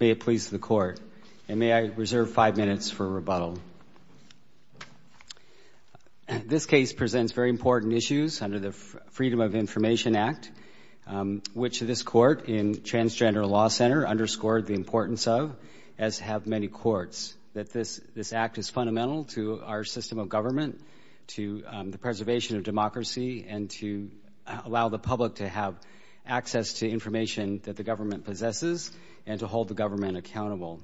May it please the Court, and may I reserve five minutes for rebuttal. This case presents very important issues under the Freedom of Information Act, which this Court in Transgender Law Center underscored the importance of, as have many courts, that this Act is fundamental to our system of government, to the preservation of democracy, and to allow the public to have access to information that the government possesses, and to hold the government accountable.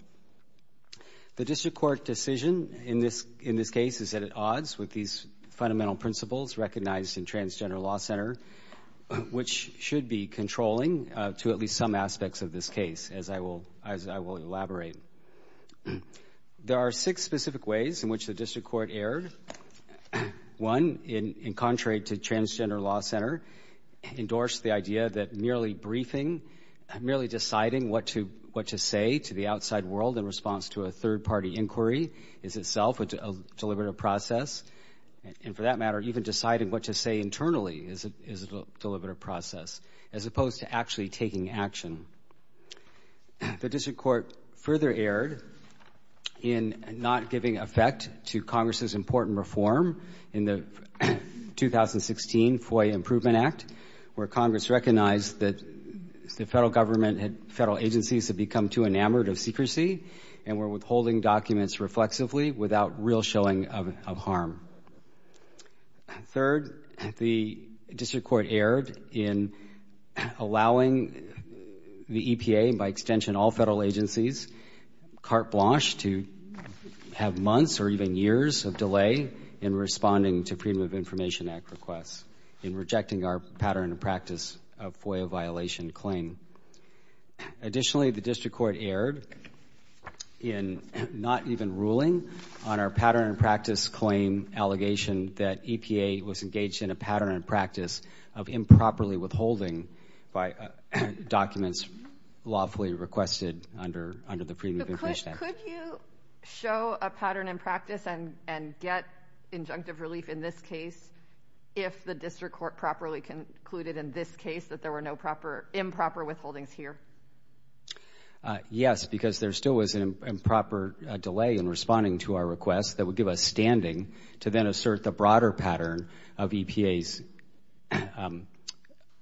The District Court decision in this case is at odds with these fundamental principles recognized in Transgender Law Center, which should be controlling to at least some aspects of this case, as I will elaborate. There are six specific ways in which the District Court erred. One, in contrary to Transgender Law Center, endorsed the idea that merely briefing, merely deciding what to say to the outside world in response to a third-party inquiry is itself a deliberative process. And for that matter, even deciding what to say internally is a deliberative process, as opposed to actually taking action. The District Court further erred in not giving effect to Congress's important reform in the 2016 FOIA Improvement Act, where Congress recognized that the federal government and federal agencies had become too enamored of secrecy, and were withholding documents reflexively without real showing of harm. Third, the District Court erred in allowing the EPA, and by extension all federal agencies, carte blanche to have months or even years of delay in responding to Freedom of Information Act requests, in rejecting our pattern and practice of FOIA violation claim. Additionally, the District Court erred in not even ruling on our pattern and practice claim allegation that EPA was engaged in a pattern and practice of improperly withholding documents lawfully requested under the Freedom of Information Act. Could you show a pattern and practice and get injunctive relief in this case if the District Court properly concluded in this case that there were no improper withholdings here? Yes, because there still was an improper delay in responding to our requests that would give us standing to then assert the broader pattern of EPA's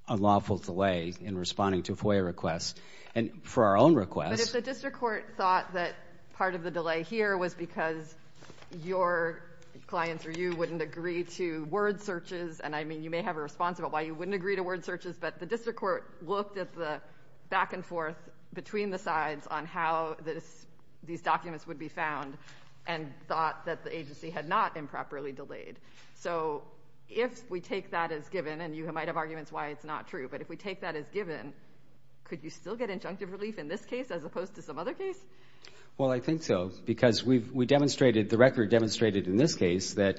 unlawful delay in responding to FOIA requests. And for our own requests... But if the District Court thought that part of the delay here was because your clients or you wouldn't agree to word searches, and I mean you may have a response about why you wouldn't agree to word searches, but the District Court looked at the back and forth between the sides on how these documents would be found, and thought that the agency had not improperly delayed. So if we take that as given, and you might have arguments why it's not true, but if we take that as given, could you still get injunctive relief in this case as opposed to some other case? Well, I think so, because we've demonstrated, the record demonstrated in this case, that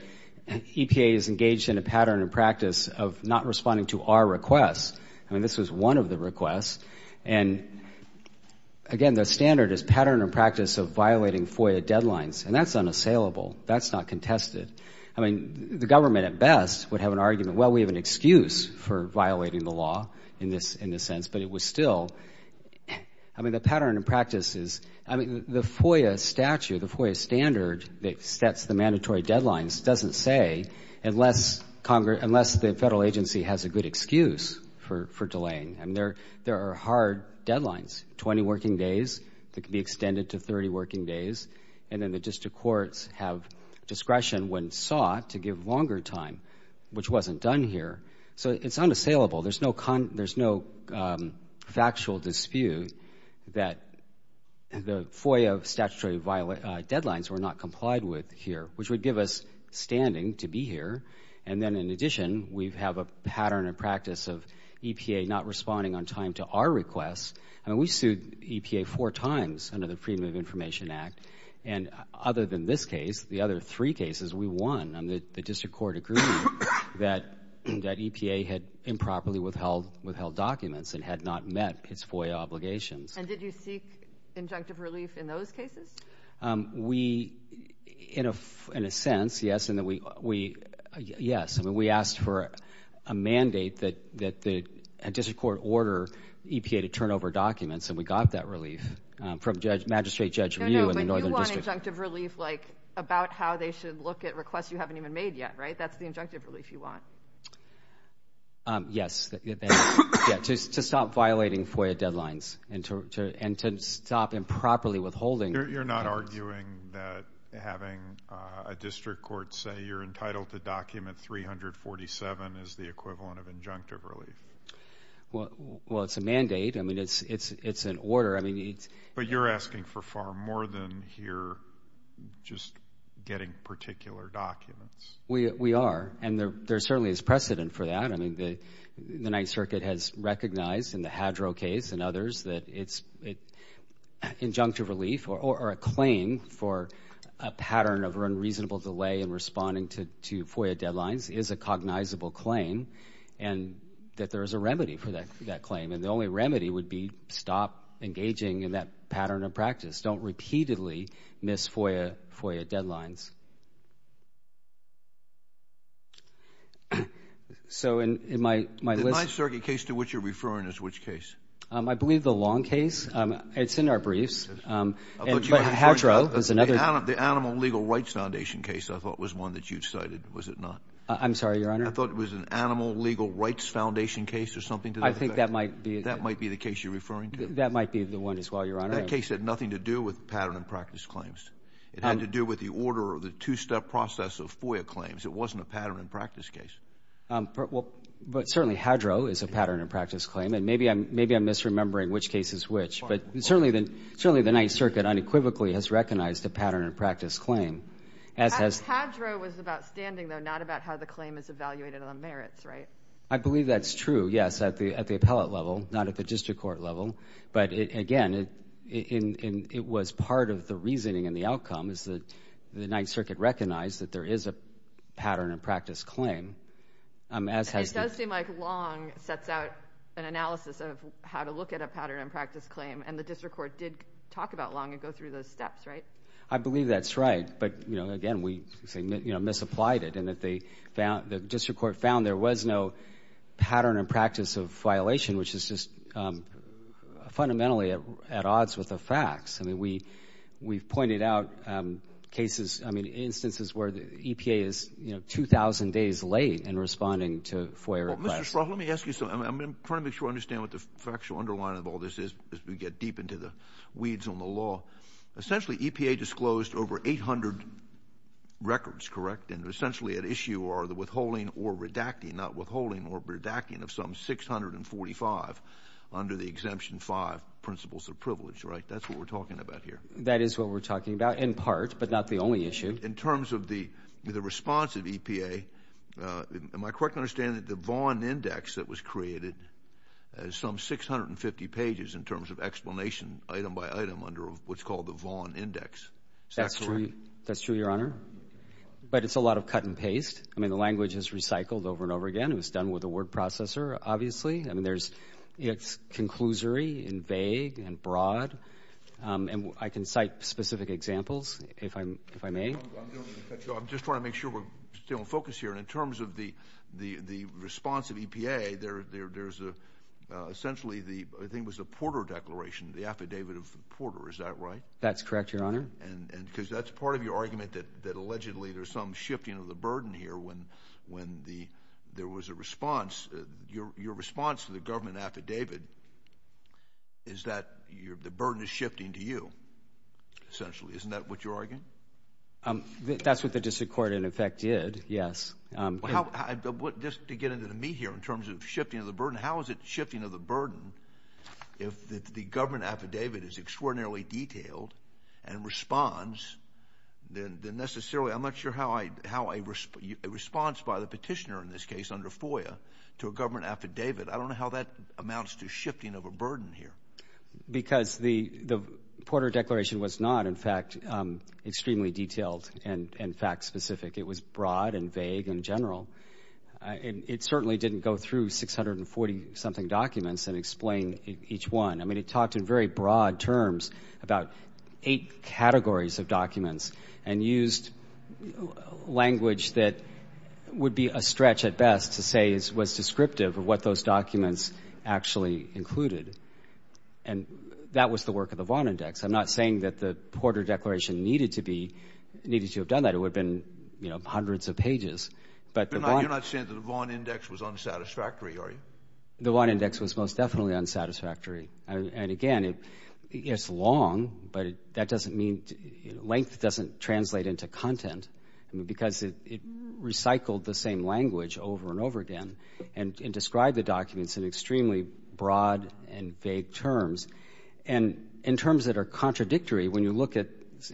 EPA is engaged in a pattern and practice of not responding to our requests. I mean, this was one of the requests. And, again, the standard is pattern and practice of violating FOIA deadlines, and that's unassailable. That's not contested. I mean, the government at best would have an argument, well, we have an excuse for violating the law in this sense, but it was still... I mean, the pattern and practice is... I mean, the FOIA statute, the FOIA standard that sets the mandatory deadlines, doesn't say unless the federal agency has a good excuse for delaying. I mean, there are hard deadlines, 20 working days that can be extended to 30 working days, and then the district courts have discretion when sought to give longer time, which wasn't done here. So it's unassailable. There's no factual dispute that the FOIA statutory deadlines were not complied with here, which would give us standing to be here. And then, in addition, we have a pattern and practice of EPA not responding on time to our requests. I mean, we sued EPA four times under the Freedom of Information Act, and other than this case, the other three cases, we won. The district court agreed that EPA had improperly withheld documents and had not met its FOIA obligations. And did you seek injunctive relief in those cases? We, in a sense, yes. I mean, we asked for a mandate that the district court order EPA to turn over documents, and we got that relief from Magistrate Judge Miu in the Northern District. No, no, but you want injunctive relief, like, about how they should look at requests you haven't even made yet, right? That's the injunctive relief you want. Yes, to stop violating FOIA deadlines and to stop improperly withholding. You're not arguing that having a district court say you're entitled to document 347 is the equivalent of injunctive relief? Well, it's a mandate. I mean, it's an order. But you're asking for far more than here just getting particular documents. We are, and there certainly is precedent for that. I mean, the Ninth Circuit has recognized in the Hadro case and others that injunctive relief or a claim for a pattern of unreasonable delay in responding to FOIA deadlines is a cognizable claim and that there is a remedy for that claim. And the only remedy would be stop engaging in that pattern of practice. Don't repeatedly miss FOIA deadlines. The Ninth Circuit case to which you're referring is which case? I believe the Long case. It's in our briefs. But Hadro is another. The Animal Legal Rights Foundation case I thought was one that you cited, was it not? I'm sorry, Your Honor. I thought it was an Animal Legal Rights Foundation case or something to that effect. I think that might be. That might be the case you're referring to. That might be the one as well, Your Honor. That case had nothing to do with pattern of practice claims. It had to do with the order of the two-step process of FOIA claims. It wasn't a pattern of practice case. But certainly Hadro is a pattern of practice claim. And maybe I'm misremembering which case is which. But certainly the Ninth Circuit unequivocally has recognized a pattern of practice claim. Hadro was about standing, though, not about how the claim is evaluated on merits, right? I believe that's true, yes, at the appellate level, not at the district court level. But, again, it was part of the reasoning and the outcome is that the Ninth Circuit recognized that there is a pattern of practice claim. It does seem like Long sets out an analysis of how to look at a pattern of practice claim. And the district court did talk about Long and go through those steps, right? I believe that's right. But, again, we misapplied it in that the district court found there was no pattern of practice of violation, which is just fundamentally at odds with the facts. I mean, we've pointed out instances where the EPA is 2,000 days late in responding to FOIA requests. Mr. Sproul, let me ask you something. I'm trying to make sure I understand what the factual underline of all this is as we get deep into the weeds on the law. Essentially, EPA disclosed over 800 records, correct? And essentially at issue are the withholding or redacting, not withholding or redacting of some 645 under the Exemption 5 principles of privilege, right? That's what we're talking about here. That is what we're talking about in part, but not the only issue. In terms of the response of EPA, am I correct in understanding that the Vaughan Index that was created has some 650 pages in terms of explanation item by item under what's called the Vaughan Index? That's true, Your Honor, but it's a lot of cut and paste. I mean, the language is recycled over and over again. It was done with a word processor, obviously. I mean, it's conclusory and vague and broad. And I can cite specific examples, if I may. I'm just trying to make sure we're still in focus here. And in terms of the response of EPA, there's essentially the Porter Declaration, the Affidavit of Porter. Is that right? That's correct, Your Honor. Because that's part of your argument that allegedly there's some shifting of the burden here when there was a response. Your response to the government affidavit is that the burden is shifting to you, essentially. Isn't that what you're arguing? That's what the district court, in effect, did, yes. Just to get into the meat here in terms of shifting of the burden, how is it shifting of the burden if the government affidavit is extraordinarily detailed and responds? I'm not sure how a response by the petitioner in this case under FOIA to a government affidavit, I don't know how that amounts to shifting of a burden here. Because the Porter Declaration was not, in fact, extremely detailed and fact-specific. It was broad and vague and general. It certainly didn't go through 640-something documents and explain each one. I mean, it talked in very broad terms about eight categories of documents and used language that would be a stretch at best to say it was descriptive of what those documents actually included. And that was the work of the Vaughan Index. I'm not saying that the Porter Declaration needed to have done that. It would have been hundreds of pages. You're not saying that the Vaughan Index was unsatisfactory, are you? The Vaughan Index was most definitely unsatisfactory. And, again, it's long, but that doesn't mean length doesn't translate into content because it recycled the same language over and over again and described the documents in extremely broad and vague terms. And in terms that are contradictory, when you look at,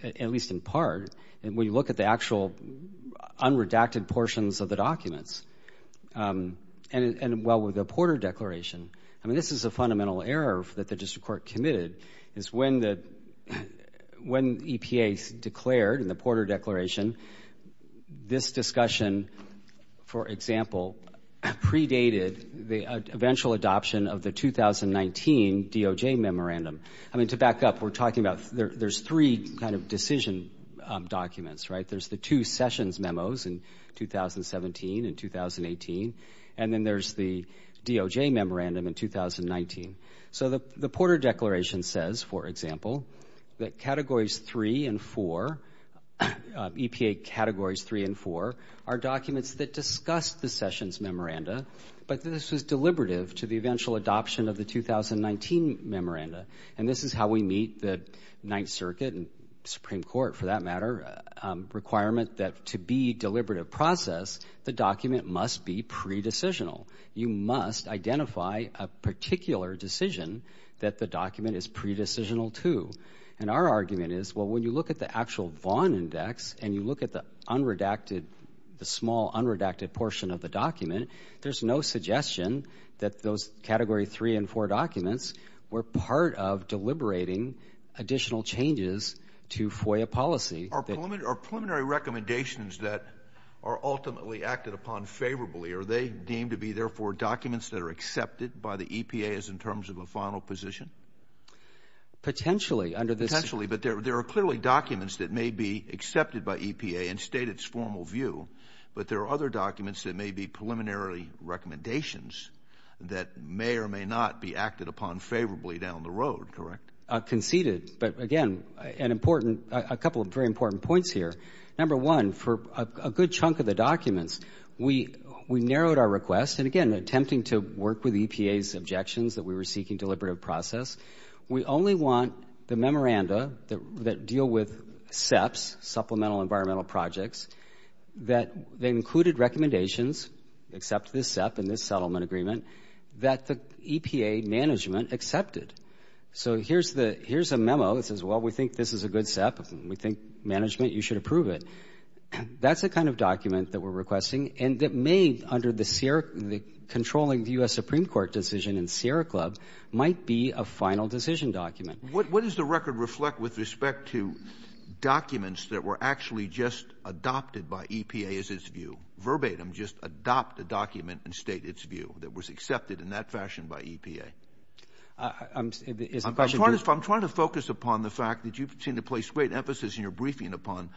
at least in part, when you look at the actual unredacted portions of the documents and, well, with the Porter Declaration, I mean, this is a fundamental error that the district court committed, is when EPA declared in the Porter Declaration this discussion, for example, predated the eventual adoption of the 2019 DOJ memorandum. I mean, to back up, we're talking about there's three kind of decision documents, right? There's the two Sessions memos in 2017 and 2018, and then there's the DOJ memorandum in 2019. So the Porter Declaration says, for example, that Categories 3 and 4, EPA Categories 3 and 4, are documents that discuss the Sessions memoranda, but this was deliberative to the eventual adoption of the 2019 memoranda. And this is how we meet the Ninth Circuit and Supreme Court, for that matter, requirement that to be a deliberative process, the document must be pre-decisional. You must identify a particular decision that the document is pre-decisional to. And our argument is, well, when you look at the actual Vaughan Index and you look at the unredacted, the small unredacted portion of the document, there's no suggestion that those Category 3 and 4 documents were part of deliberating additional changes to FOIA policy. Are preliminary recommendations that are ultimately acted upon favorably, are they deemed to be, therefore, documents that are accepted by the EPA as in terms of a final position? Potentially. Potentially, but there are clearly documents that may be accepted by EPA and state its formal view, but there are other documents that may be preliminary recommendations that may or may not be acted upon favorably down the road, correct? Conceded, but again, a couple of very important points here. Number one, for a good chunk of the documents, we narrowed our request, and again, attempting to work with EPA's objections that we were seeking deliberative process. We only want the memoranda that deal with SEPs, supplemental environmental projects, that they included recommendations except this SEP and this settlement agreement that the EPA management accepted. So here's a memo that says, well, we think this is a good SEP. We think management, you should approve it. That's the kind of document that we're requesting and that may under the controlling the U.S. Supreme Court decision in Sierra Club might be a final decision document. What does the record reflect with respect to documents that were actually just adopted by EPA as its view, verbatim just adopt a document and state its view that was accepted in that fashion by EPA? I'm trying to focus upon the fact that you seem to place great emphasis in your briefing upon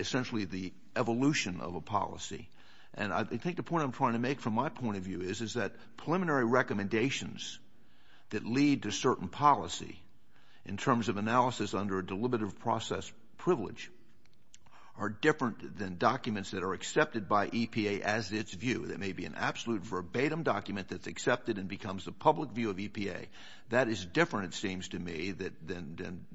essentially the evolution of a policy, and I think the point I'm trying to make from my point of view is that preliminary recommendations that lead to certain policy in terms of analysis under a deliberative process privilege are different than documents that are accepted by EPA as its view. That may be an absolute verbatim document that's accepted and becomes the public view of EPA. That is different, it seems to me, than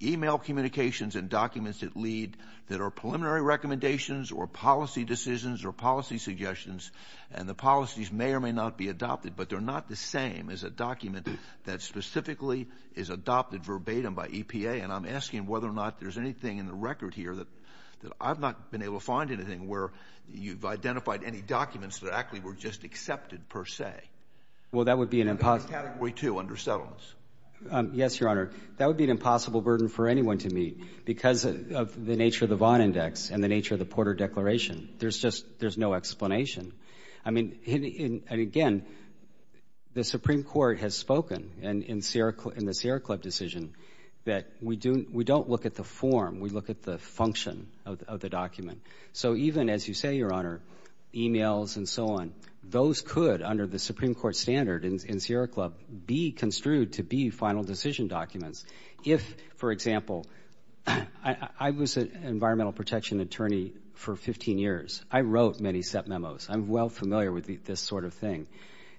email communications and documents that lead that are preliminary recommendations or policy decisions or policy suggestions, and the policies may or may not be adopted, but they're not the same as a document that specifically is adopted verbatim by EPA, and I'm asking whether or not there's anything in the record here that I've not been able to find anything where you've identified any documents that actually were just accepted per se. Well, that would be an impossible – That's category two, under settlements. Yes, Your Honor. That would be an impossible burden for anyone to meet because of the nature of the Vaughn Index and the nature of the Porter Declaration. There's just – there's no explanation. I mean, and again, the Supreme Court has spoken in the Sierra Club decision that we don't look at the form, we look at the function of the document. So even, as you say, Your Honor, emails and so on, those could, under the Supreme Court standard in Sierra Club, be construed to be final decision documents if, for example, I was an environmental protection attorney for 15 years. I wrote many SEP memos. I'm well familiar with this sort of thing.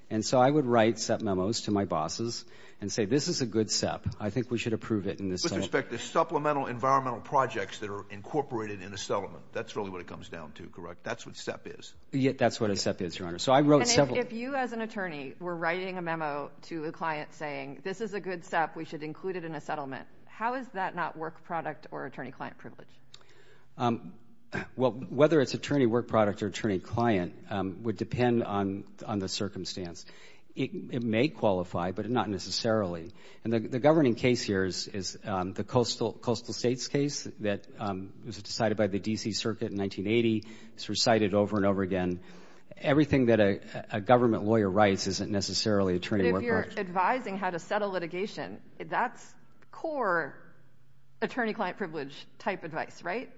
And so I would write SEP memos to my bosses and say, This is a good SEP. I think we should approve it in this – With respect, there's supplemental environmental projects that are incorporated in a settlement. That's really what it comes down to, correct? That's what SEP is. Yeah, that's what a SEP is, Your Honor. So I wrote several – And if you, as an attorney, were writing a memo to a client saying, This is a good SEP. We should include it in a settlement. How is that not work product or attorney-client privilege? Well, whether it's attorney work product or attorney client would depend on the circumstance. It may qualify, but not necessarily. And the governing case here is the Coastal States case that was decided by the D.C. Circuit in 1980. It was recited over and over again. Everything that a government lawyer writes isn't necessarily attorney work product. But if you're advising how to settle litigation, that's core attorney-client privilege type advice, right?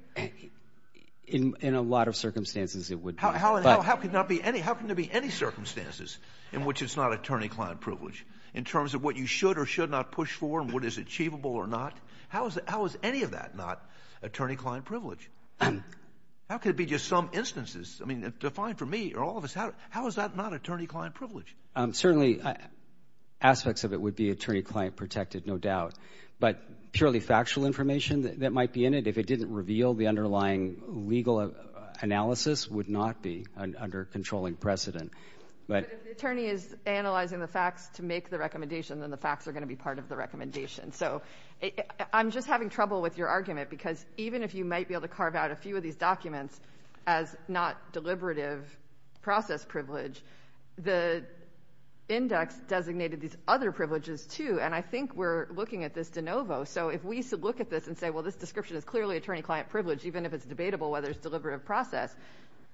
In a lot of circumstances, it would be. How can there be any circumstances in which it's not attorney-client privilege in terms of what you should or should not push for and what is achievable or not? How is any of that not attorney-client privilege? How could it be just some instances? I mean, define for me or all of us, how is that not attorney-client privilege? Certainly, aspects of it would be attorney-client protected, no doubt. But purely factual information that might be in it, if it didn't reveal the underlying legal analysis, would not be under controlling precedent. But if the attorney is analyzing the facts to make the recommendation, then the facts are going to be part of the recommendation. So I'm just having trouble with your argument because even if you might be able to carve out a few of these documents as not deliberative process privilege, the index designated these other privileges, too. And I think we're looking at this de novo. So if we should look at this and say, well, this description is clearly attorney-client privilege, even if it's debatable whether it's a deliberative process,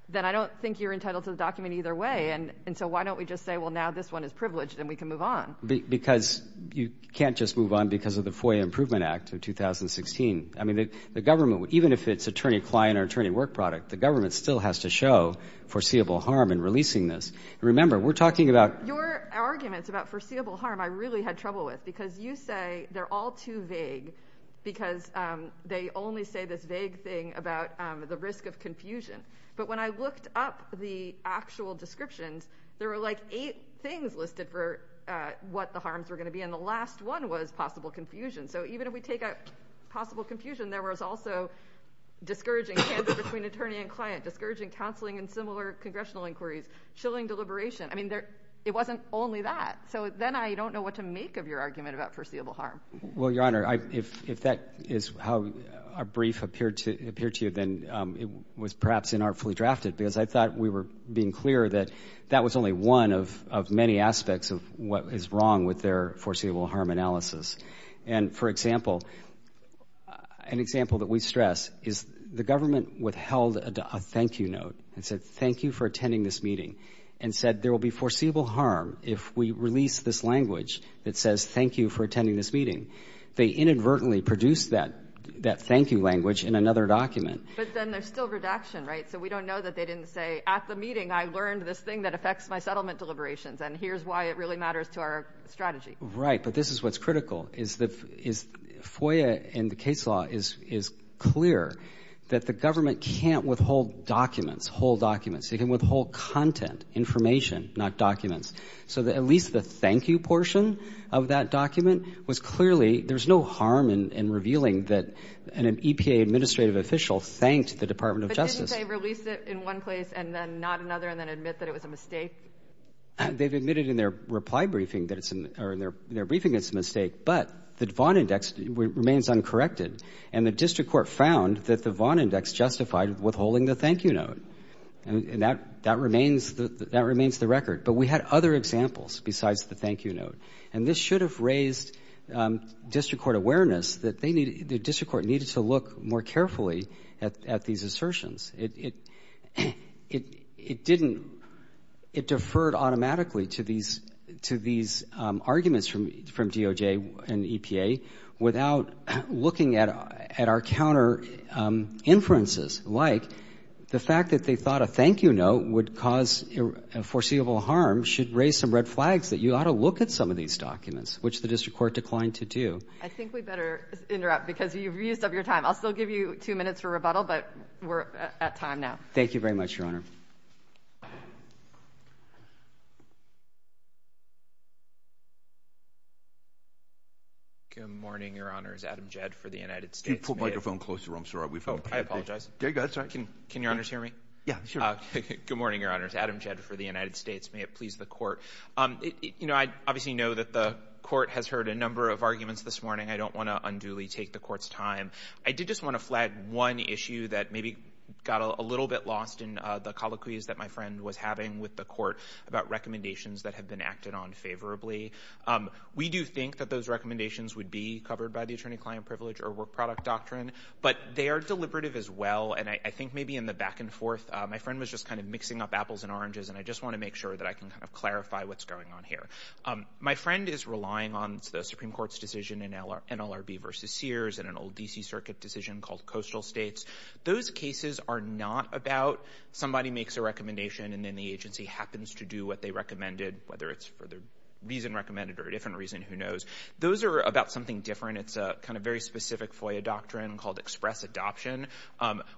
then I don't think you're entitled to the document either way. And so why don't we just say, well, now this one is privileged and we can move on? Because you can't just move on because of the FOIA Improvement Act of 2016. I mean, the government, even if it's attorney-client or attorney-work product, the government still has to show foreseeable harm in releasing this. Remember, we're talking about... Your arguments about foreseeable harm I really had trouble with because you say they're all too vague because they only say this vague thing about the risk of confusion. But when I looked up the actual descriptions, there were, like, eight things listed for what the harms were going to be, and the last one was possible confusion. So even if we take out possible confusion, there was also discouraging chance between attorney and client, discouraging counseling and similar congressional inquiries, chilling deliberation. I mean, it wasn't only that. So then I don't know what to make of your argument about foreseeable harm. Well, Your Honor, if that is how a brief appeared to you, then it was perhaps inartfully drafted because I thought we were being clear that that was only one of many aspects of what is wrong with their foreseeable harm analysis. And, for example, an example that we stress is the government withheld a thank-you note and said, thank you for attending this meeting, and said there will be foreseeable harm if we release this language that says, thank you for attending this meeting. They inadvertently produced that thank-you language in another document. But then there's still redaction, right? So we don't know that they didn't say, at the meeting I learned this thing that affects my settlement deliberations, and here's why it really matters to our strategy. Right, but this is what's critical, FOIA and the case law is clear that the government can't withhold documents, whole documents. It can withhold content, information, not documents. So at least the thank-you portion of that document was clearly, there's no harm in revealing that an EPA administrative official thanked the Department of Justice. But didn't they release it in one place and then not another and then admit that it was a mistake? They've admitted in their reply briefing that it's a mistake, but the Vaughn Index remains uncorrected. And the district court found that the Vaughn Index justified withholding the thank-you note. And that remains the record. But we had other examples besides the thank-you note. And this should have raised district court awareness that the district court needed to look more carefully at these assertions. It didn't, it deferred automatically to these arguments from DOJ and EPA without looking at our counter inferences, like the fact that they thought a thank-you note would cause foreseeable harm should raise some red flags that you ought to look at some of these documents, which the district court declined to do. I think we better interrupt because you've used up your time. I'll still give you two minutes for rebuttal, but we're at time now. Thank you very much, Your Honor. Adam Jed Good morning, Your Honors. Adam Jed for the United States. Could you pull the microphone closer, I'm sorry. I apologize. There you go, that's all right. Can Your Honors hear me? Yeah, sure. Good morning, Your Honors. Adam Jed for the United States. May it please the Court. You know, I obviously know that the Court has heard a number of arguments this morning. I don't want to unduly take the Court's time. I did just want to flag one issue that maybe got a little bit lost in the colloquies that my friend was having with the Court about recommendations that have been acted on favorably. We do think that those recommendations would be covered by the attorney-client privilege or work product doctrine, but they are deliberative as well, and I think maybe in the back and forth, my friend was just kind of mixing up apples and oranges, and I just want to make sure that I can kind of clarify what's going on here. My friend is relying on the Supreme Court's decision in NLRB v. Sears Those cases are not about somebody makes a recommendation and then the agency happens to do what they recommended, whether it's for the reason recommended or a different reason, who knows. Those are about something different. It's a kind of very specific FOIA doctrine called express adoption,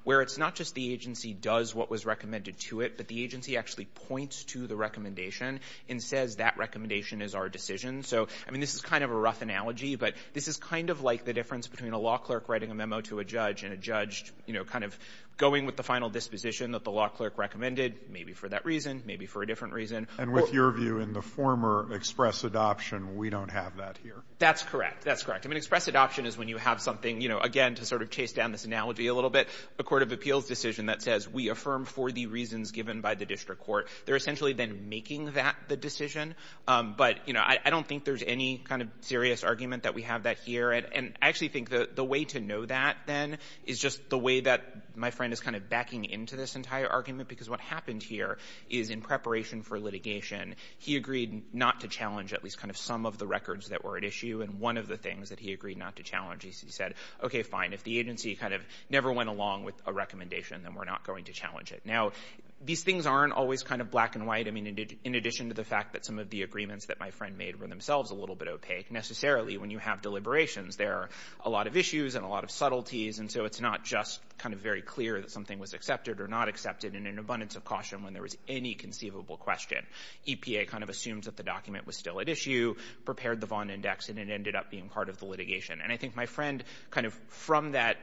where it's not just the agency does what was recommended to it, but the agency actually points to the recommendation and says that recommendation is our decision. So, I mean, this is kind of a rough analogy, but this is kind of like the difference between a law clerk writing a memo to a judge and a judge, you know, kind of going with the final disposition that the law clerk recommended, maybe for that reason, maybe for a different reason. And with your view in the former express adoption, we don't have that here. That's correct. That's correct. I mean, express adoption is when you have something, you know, again, to sort of chase down this analogy a little bit, a court of appeals decision that says, we affirm for the reasons given by the district court. They're essentially then making that the decision. But, you know, I don't think there's any kind of serious argument that we have that here. And I actually think the way to know that, then, is just the way that my friend is kind of backing into this entire argument, because what happened here is in preparation for litigation, he agreed not to challenge at least kind of some of the records that were at issue. And one of the things that he agreed not to challenge, he said, okay, fine, if the agency kind of never went along with a recommendation, then we're not going to challenge it. Now, these things aren't always kind of black and white. I mean, in addition to the fact that some of the agreements that my friend made were themselves a little bit opaque, necessarily, when you have deliberations, there are a lot of issues and a lot of subtleties. And so it's not just kind of very clear that something was accepted or not accepted in an abundance of caution when there was any conceivable question. EPA kind of assumes that the document was still at issue, prepared the Vaughn Index, and it ended up being part of the litigation. And I think my friend kind of from that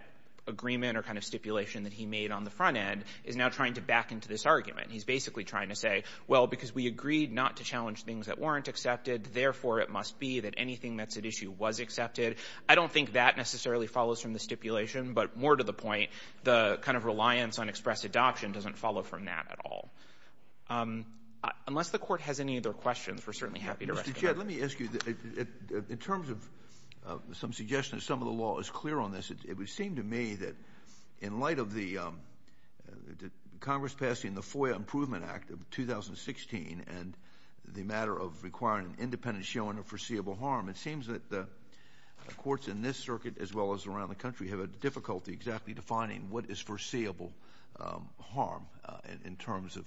agreement or kind of stipulation that he made on the front end is now trying to back into this argument. He's basically trying to say, well, because we agreed not to challenge things that weren't accepted, therefore, it must be that anything that's at issue was accepted. I don't think that necessarily follows from the stipulation, but more to the point, the kind of reliance on express adoption doesn't follow from that at all. Unless the court has any other questions, we're certainly happy to respond. Mr. Jett, let me ask you, in terms of some suggestions that some of the law is clear on this, it would seem to me that in light of the Congress passing the FOIA Improvement Act of 2016 and the matter of requiring an independent showing of foreseeable harm, it seems that the courts in this circuit as well as around the country have a difficulty exactly defining what is foreseeable harm in terms of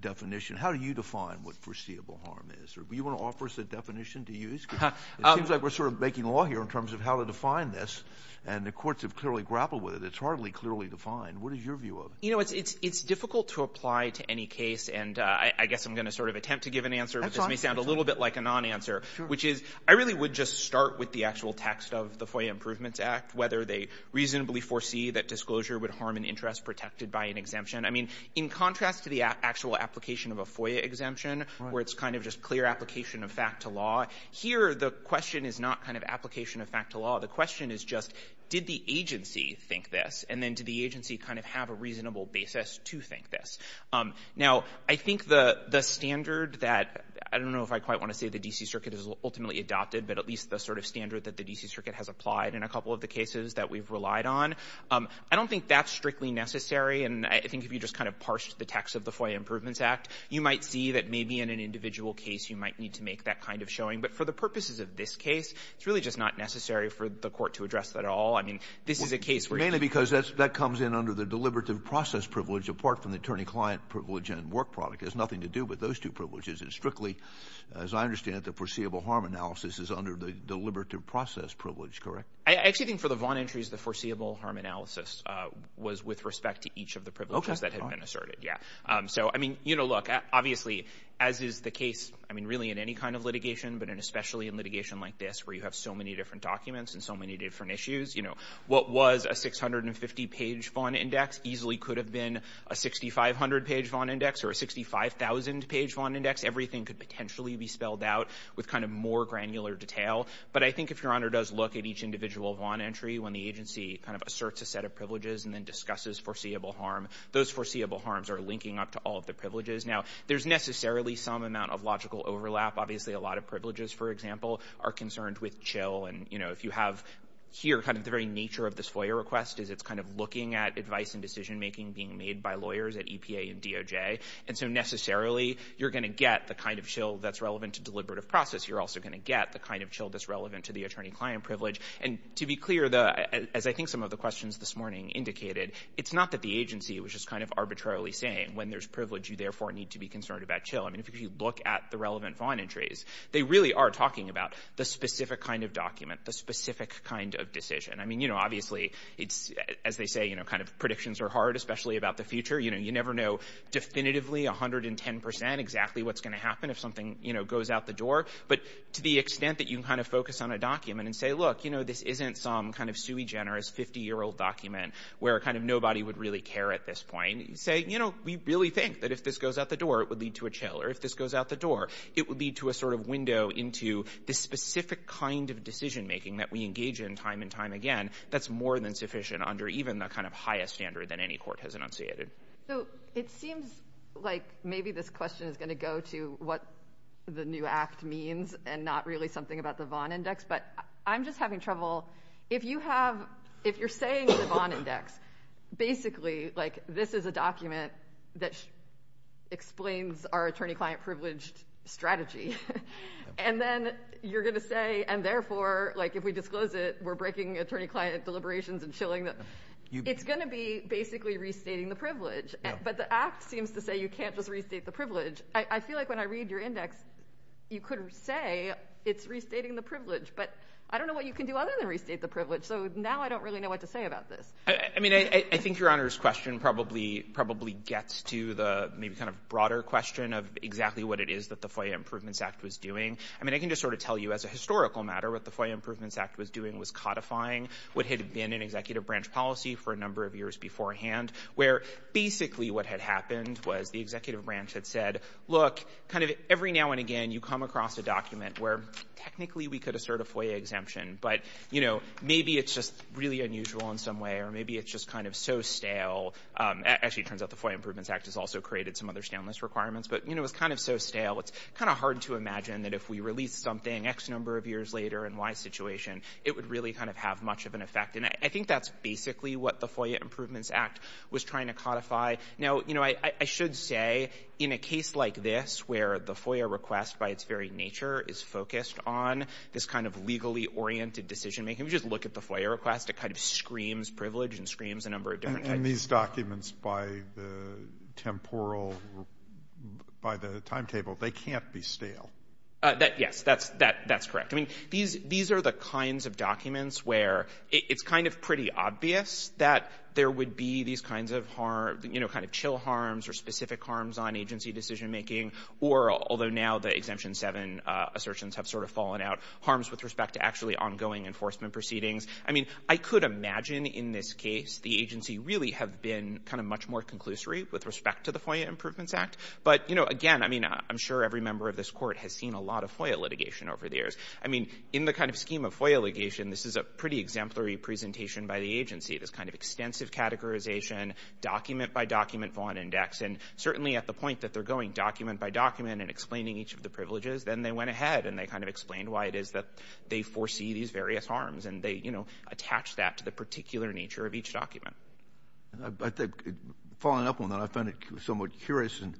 definition. How do you define what foreseeable harm is? Do you want to offer us a definition to use? It seems like we're sort of making law here in terms of how to define this, and the courts have clearly grappled with it. It's hardly clearly defined. What is your view of it? You know, it's difficult to apply to any case, and I guess I'm going to sort of attempt to give an answer, but this may sound a little bit like a non-answer, which is I really would just start with the actual text of the FOIA Improvement Act, whether they reasonably foresee that disclosure would harm an interest protected by an exemption. I mean, in contrast to the actual application of a FOIA exemption, where it's kind of just clear application of fact to law, here the question is not kind of application of fact to law. The question is just did the agency think this, and then did the agency kind of have a reasonable basis to think this? Now, I think the standard that... I don't know if I quite want to say the D.C. Circuit has ultimately adopted, but at least the sort of standard that the D.C. Circuit has applied in a couple of the cases that we've relied on. I don't think that's strictly necessary, and I think if you just kind of parsed the text of the FOIA Improvement Act, you might see that maybe in an individual case you might need to make that kind of showing. But for the purposes of this case, it's really just not necessary for the court to address that at all. I mean, this is a case where... Mainly because that comes in under the deliberative process privilege apart from the attorney-client privilege and work product. It has nothing to do with those two privileges. It's strictly, as I understand it, the foreseeable harm analysis is under the deliberative process privilege, correct? I actually think for the Vaughn entries, the foreseeable harm analysis was with respect to each of the privileges that had been asserted. Yeah. So, I mean, you know, look, obviously, as is the case, I mean, really in any kind of litigation, but especially in litigation like this where you have so many different documents and so many different issues, you know, what was a 650-page Vaughn index easily could have been a 6,500-page Vaughn index or a 65,000-page Vaughn index. Everything could potentially be spelled out with kind of more granular detail. But I think if Your Honor does look at each individual Vaughn entry, when the agency kind of asserts a set of privileges and then discusses foreseeable harm, those foreseeable harms are linking up to all of the privileges. Now, there's necessarily some amount of logical overlap. Obviously, a lot of privileges, for example, are concerned with chill and, you know, if you have here kind of the very nature of this FOIA request is it's kind of looking at advice and decision-making being made by lawyers at EPA and DOJ. And so necessarily, you're going to get the kind of chill that's relevant to deliberative process. You're also going to get the kind of chill that's relevant to the attorney-client privilege. And to be clear, as I think some of the questions this morning indicated, it's not that the agency was just kind of arbitrarily saying when there's privilege, you therefore need to be concerned about chill. I mean, if you look at the relevant Vaughn entries, they really are talking about the specific kind of document, the specific kind of decision. I mean, you know, obviously, it's, as they say, you know, kind of predictions are hard, especially about the future. You know, you never know definitively 110% exactly what's going to happen if something, you know, goes out the door. But to the extent that you can kind of focus on a document and say, look, you know, this isn't some kind of sui generis 50-year-old document where kind of nobody would really care at this point. Say, you know, we really think that if this goes out the door, it would lead to a chill. Or if this goes out the door, it would lead to a sort of window into the specific kind of decision-making that we engage in time and time again that's more than sufficient under even the kind of highest standard that any court has enunciated. So it seems like maybe this question is going to go to what the new act means and not really something about the Vaughn Index. But I'm just having trouble. If you have, if you're saying the Vaughn Index, basically, like, this is a document that explains our attorney-client privileged strategy. And then you're going to say, and therefore, like, if we disclose it, we're breaking attorney-client deliberations and chilling. It's going to be basically restating the privilege. But the act seems to say you can't just restate the privilege. I feel like when I read your index, you could say it's restating the privilege. But I don't know what you can do other than restate the privilege. So now I don't really know what to say about this. I mean, I think Your Honor's question probably gets to the maybe kind of broader question of exactly what it is that the FOIA Improvements Act was doing. I mean, I can just sort of tell you, as a historical matter, what the FOIA Improvements Act was doing was codifying what had been an executive branch policy for a number of years beforehand, where basically what had happened was the executive branch had said, look, kind of every now and again, you come across a document where technically we could assert a FOIA exemption. But, you know, maybe it's just really unusual in some way, or maybe it's just kind of so stale. Actually, it turns out the FOIA Improvements Act has also created some other staleness requirements. But, you know, it was kind of so stale, it's kind of hard to imagine that if we release something X number of years later, in a Y situation, it would really kind of have much of an effect. And I think that's basically what the FOIA Improvements Act was trying to codify. Now, you know, I should say, in a case like this, where the FOIA request, by its very nature, is focused on this kind of legally-oriented decision-making, if you just look at the FOIA request, it kind of screams privilege and screams a number of different types. And these documents by the temporal... by the timetable, they can't be stale. Yes, that's correct. I mean, these are the kinds of documents where it's kind of pretty obvious that there would be these kinds of harm, you know, kind of chill harms or specific harms on agency decision-making, or, although now the Exemption 7 assertions have sort of fallen out, harms with respect to actually ongoing enforcement proceedings. I mean, I could imagine, in this case, the agency really have been kind of much more conclusory with respect to the FOIA Improvements Act. But, you know, again, I mean, I'm sure every member of this court has seen a lot of FOIA litigation over the years. I mean, in the kind of scheme of FOIA litigation, this is a pretty exemplary presentation by the agency, this kind of extensive categorization, document-by-document bond index, and certainly at the point that they're going document-by-document and explaining each of the privileges, then they went ahead and they kind of explained why it is that they foresee these various harms, and they, you know, attach that to the particular nature of each document. I think, following up on that, I find it somewhat curious and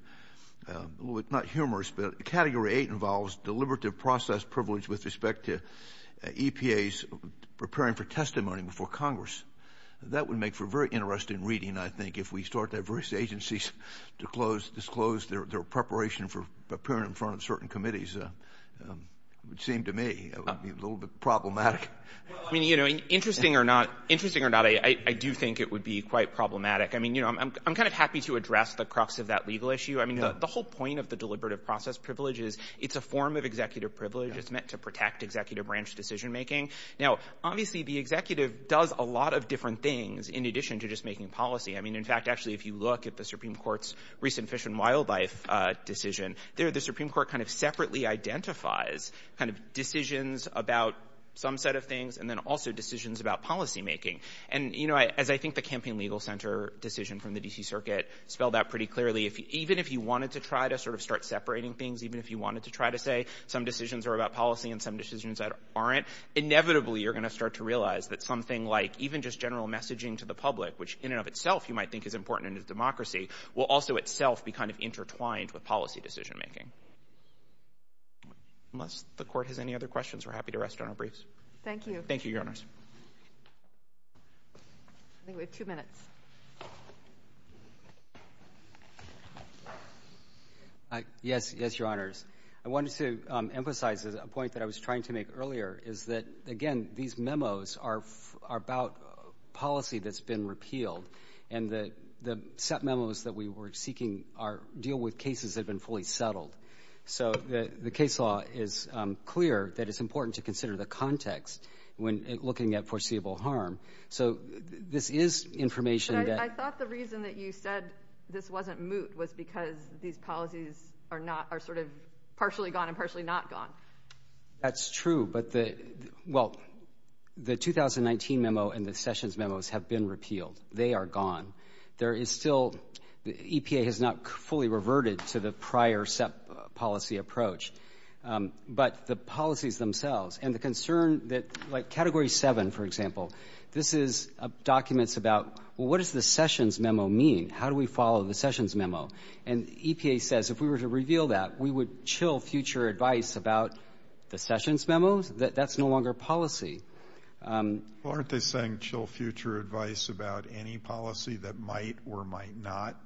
not humorous, but Category 8 involves deliberative process privilege with respect to EPAs preparing for testimony before Congress. That would make for a very interesting reading, I think, if we start to have various agencies disclose their preparation for appearing in front of certain committees. It would seem to me a little bit problematic. Well, I mean, you know, interesting or not, interesting or not, I do think it would be quite problematic. I mean, you know, I'm kind of happy to address the crux of that legal issue. I mean, the whole point of the deliberative process privilege is it's a form of executive privilege. It's meant to protect executive branch decision-making. Now, obviously, the executive does a lot of different things in addition to just making policy. I mean, in fact, actually, if you look at the Supreme Court's recent Fish and Wildlife decision, there, the Supreme Court kind of separately identifies kind of decisions about some set of things and then also decisions about policymaking. And, you know, as I think the Campaign Legal Center decision from the D.C. Circuit spelled out pretty clearly, even if you wanted to try to sort of start separating things, even if you wanted to try to say some decisions are about policy and some decisions aren't, inevitably, you're going to start to realize that something like even just general messaging to the public, which in and of itself you might think is important in a democracy, will also itself be kind of intertwined with policy decision-making. Unless the Court has any other questions, we're happy to rest on our briefs. Thank you. Thank you, Your Honors. I think we have two minutes. Yes, Your Honors. I wanted to emphasize a point that I was trying to make earlier is that, again, these memos are about policy that's been repealed. And the set memos that we were seeking deal with cases that have been fully settled. So the case law is clear that it's important to consider the context when looking at foreseeable harm. So this is information that... But I thought the reason that you said this wasn't moot was because these policies are not, are sort of partially gone and partially not gone. That's true. But the, well, the 2019 memo and the Sessions memos have been repealed. They are gone. There is still, the EPA has not fully reverted to the prior SEP policy approach. But the policies themselves, and the concern that, like Category 7, for example, this is documents about, well, what does the Sessions memo mean? How do we follow the Sessions memo? And EPA says if we were to reveal that, we would chill future advice about the Sessions memos. That's no longer policy. Well, aren't they saying chill future advice about any policy that might or might not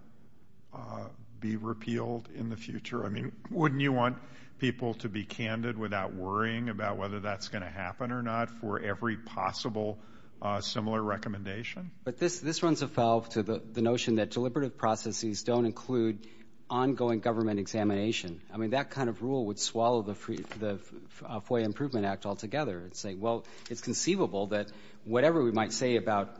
be repealed in the future? I mean, wouldn't you want people to be candid without worrying about whether that's going to happen or not for every possible similar recommendation? But this runs afoul to the notion that deliberative processes don't include ongoing government examination. I mean, that kind of rule would swallow the FOIA Improvement Act altogether and say, well, it's conceivable that whatever we might say about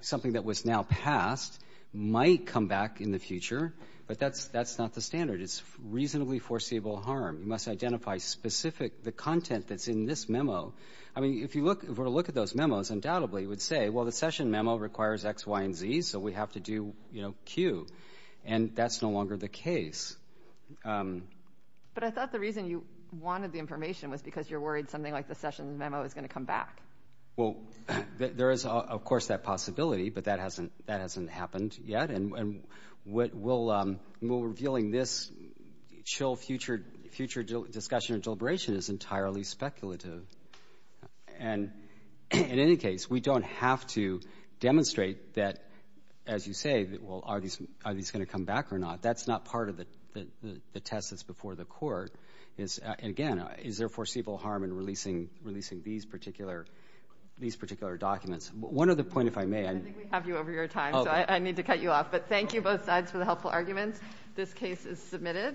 something that was now passed might come back in the future, but that's not the standard. It's reasonably foreseeable harm. We must identify specific the content that's in this memo. I mean, if you were to look at those memos, undoubtedly you would say, well, the Sessions memo requires X, Y, and Z, so we have to do, you know, Q. And that's no longer the case. But I thought the reason you wanted the information was because you're worried something like the Sessions memo is going to come back. Well, there is, of course, that possibility, but that hasn't happened yet. And revealing this chill future discussion or deliberation is entirely speculative. And in any case, we don't have to demonstrate that, as you say, well, are these going to come back or not? That's not part of the test that's before the court. Again, is there foreseeable harm in releasing these particular documents? One other point, if I may... But thank you, both sides, for the helpful arguments. This case is submitted.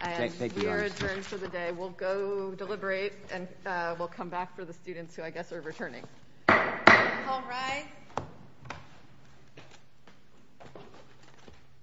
And we are adjourned for the day. We'll go deliberate, and we'll come back for the students who I guess are returning. All right.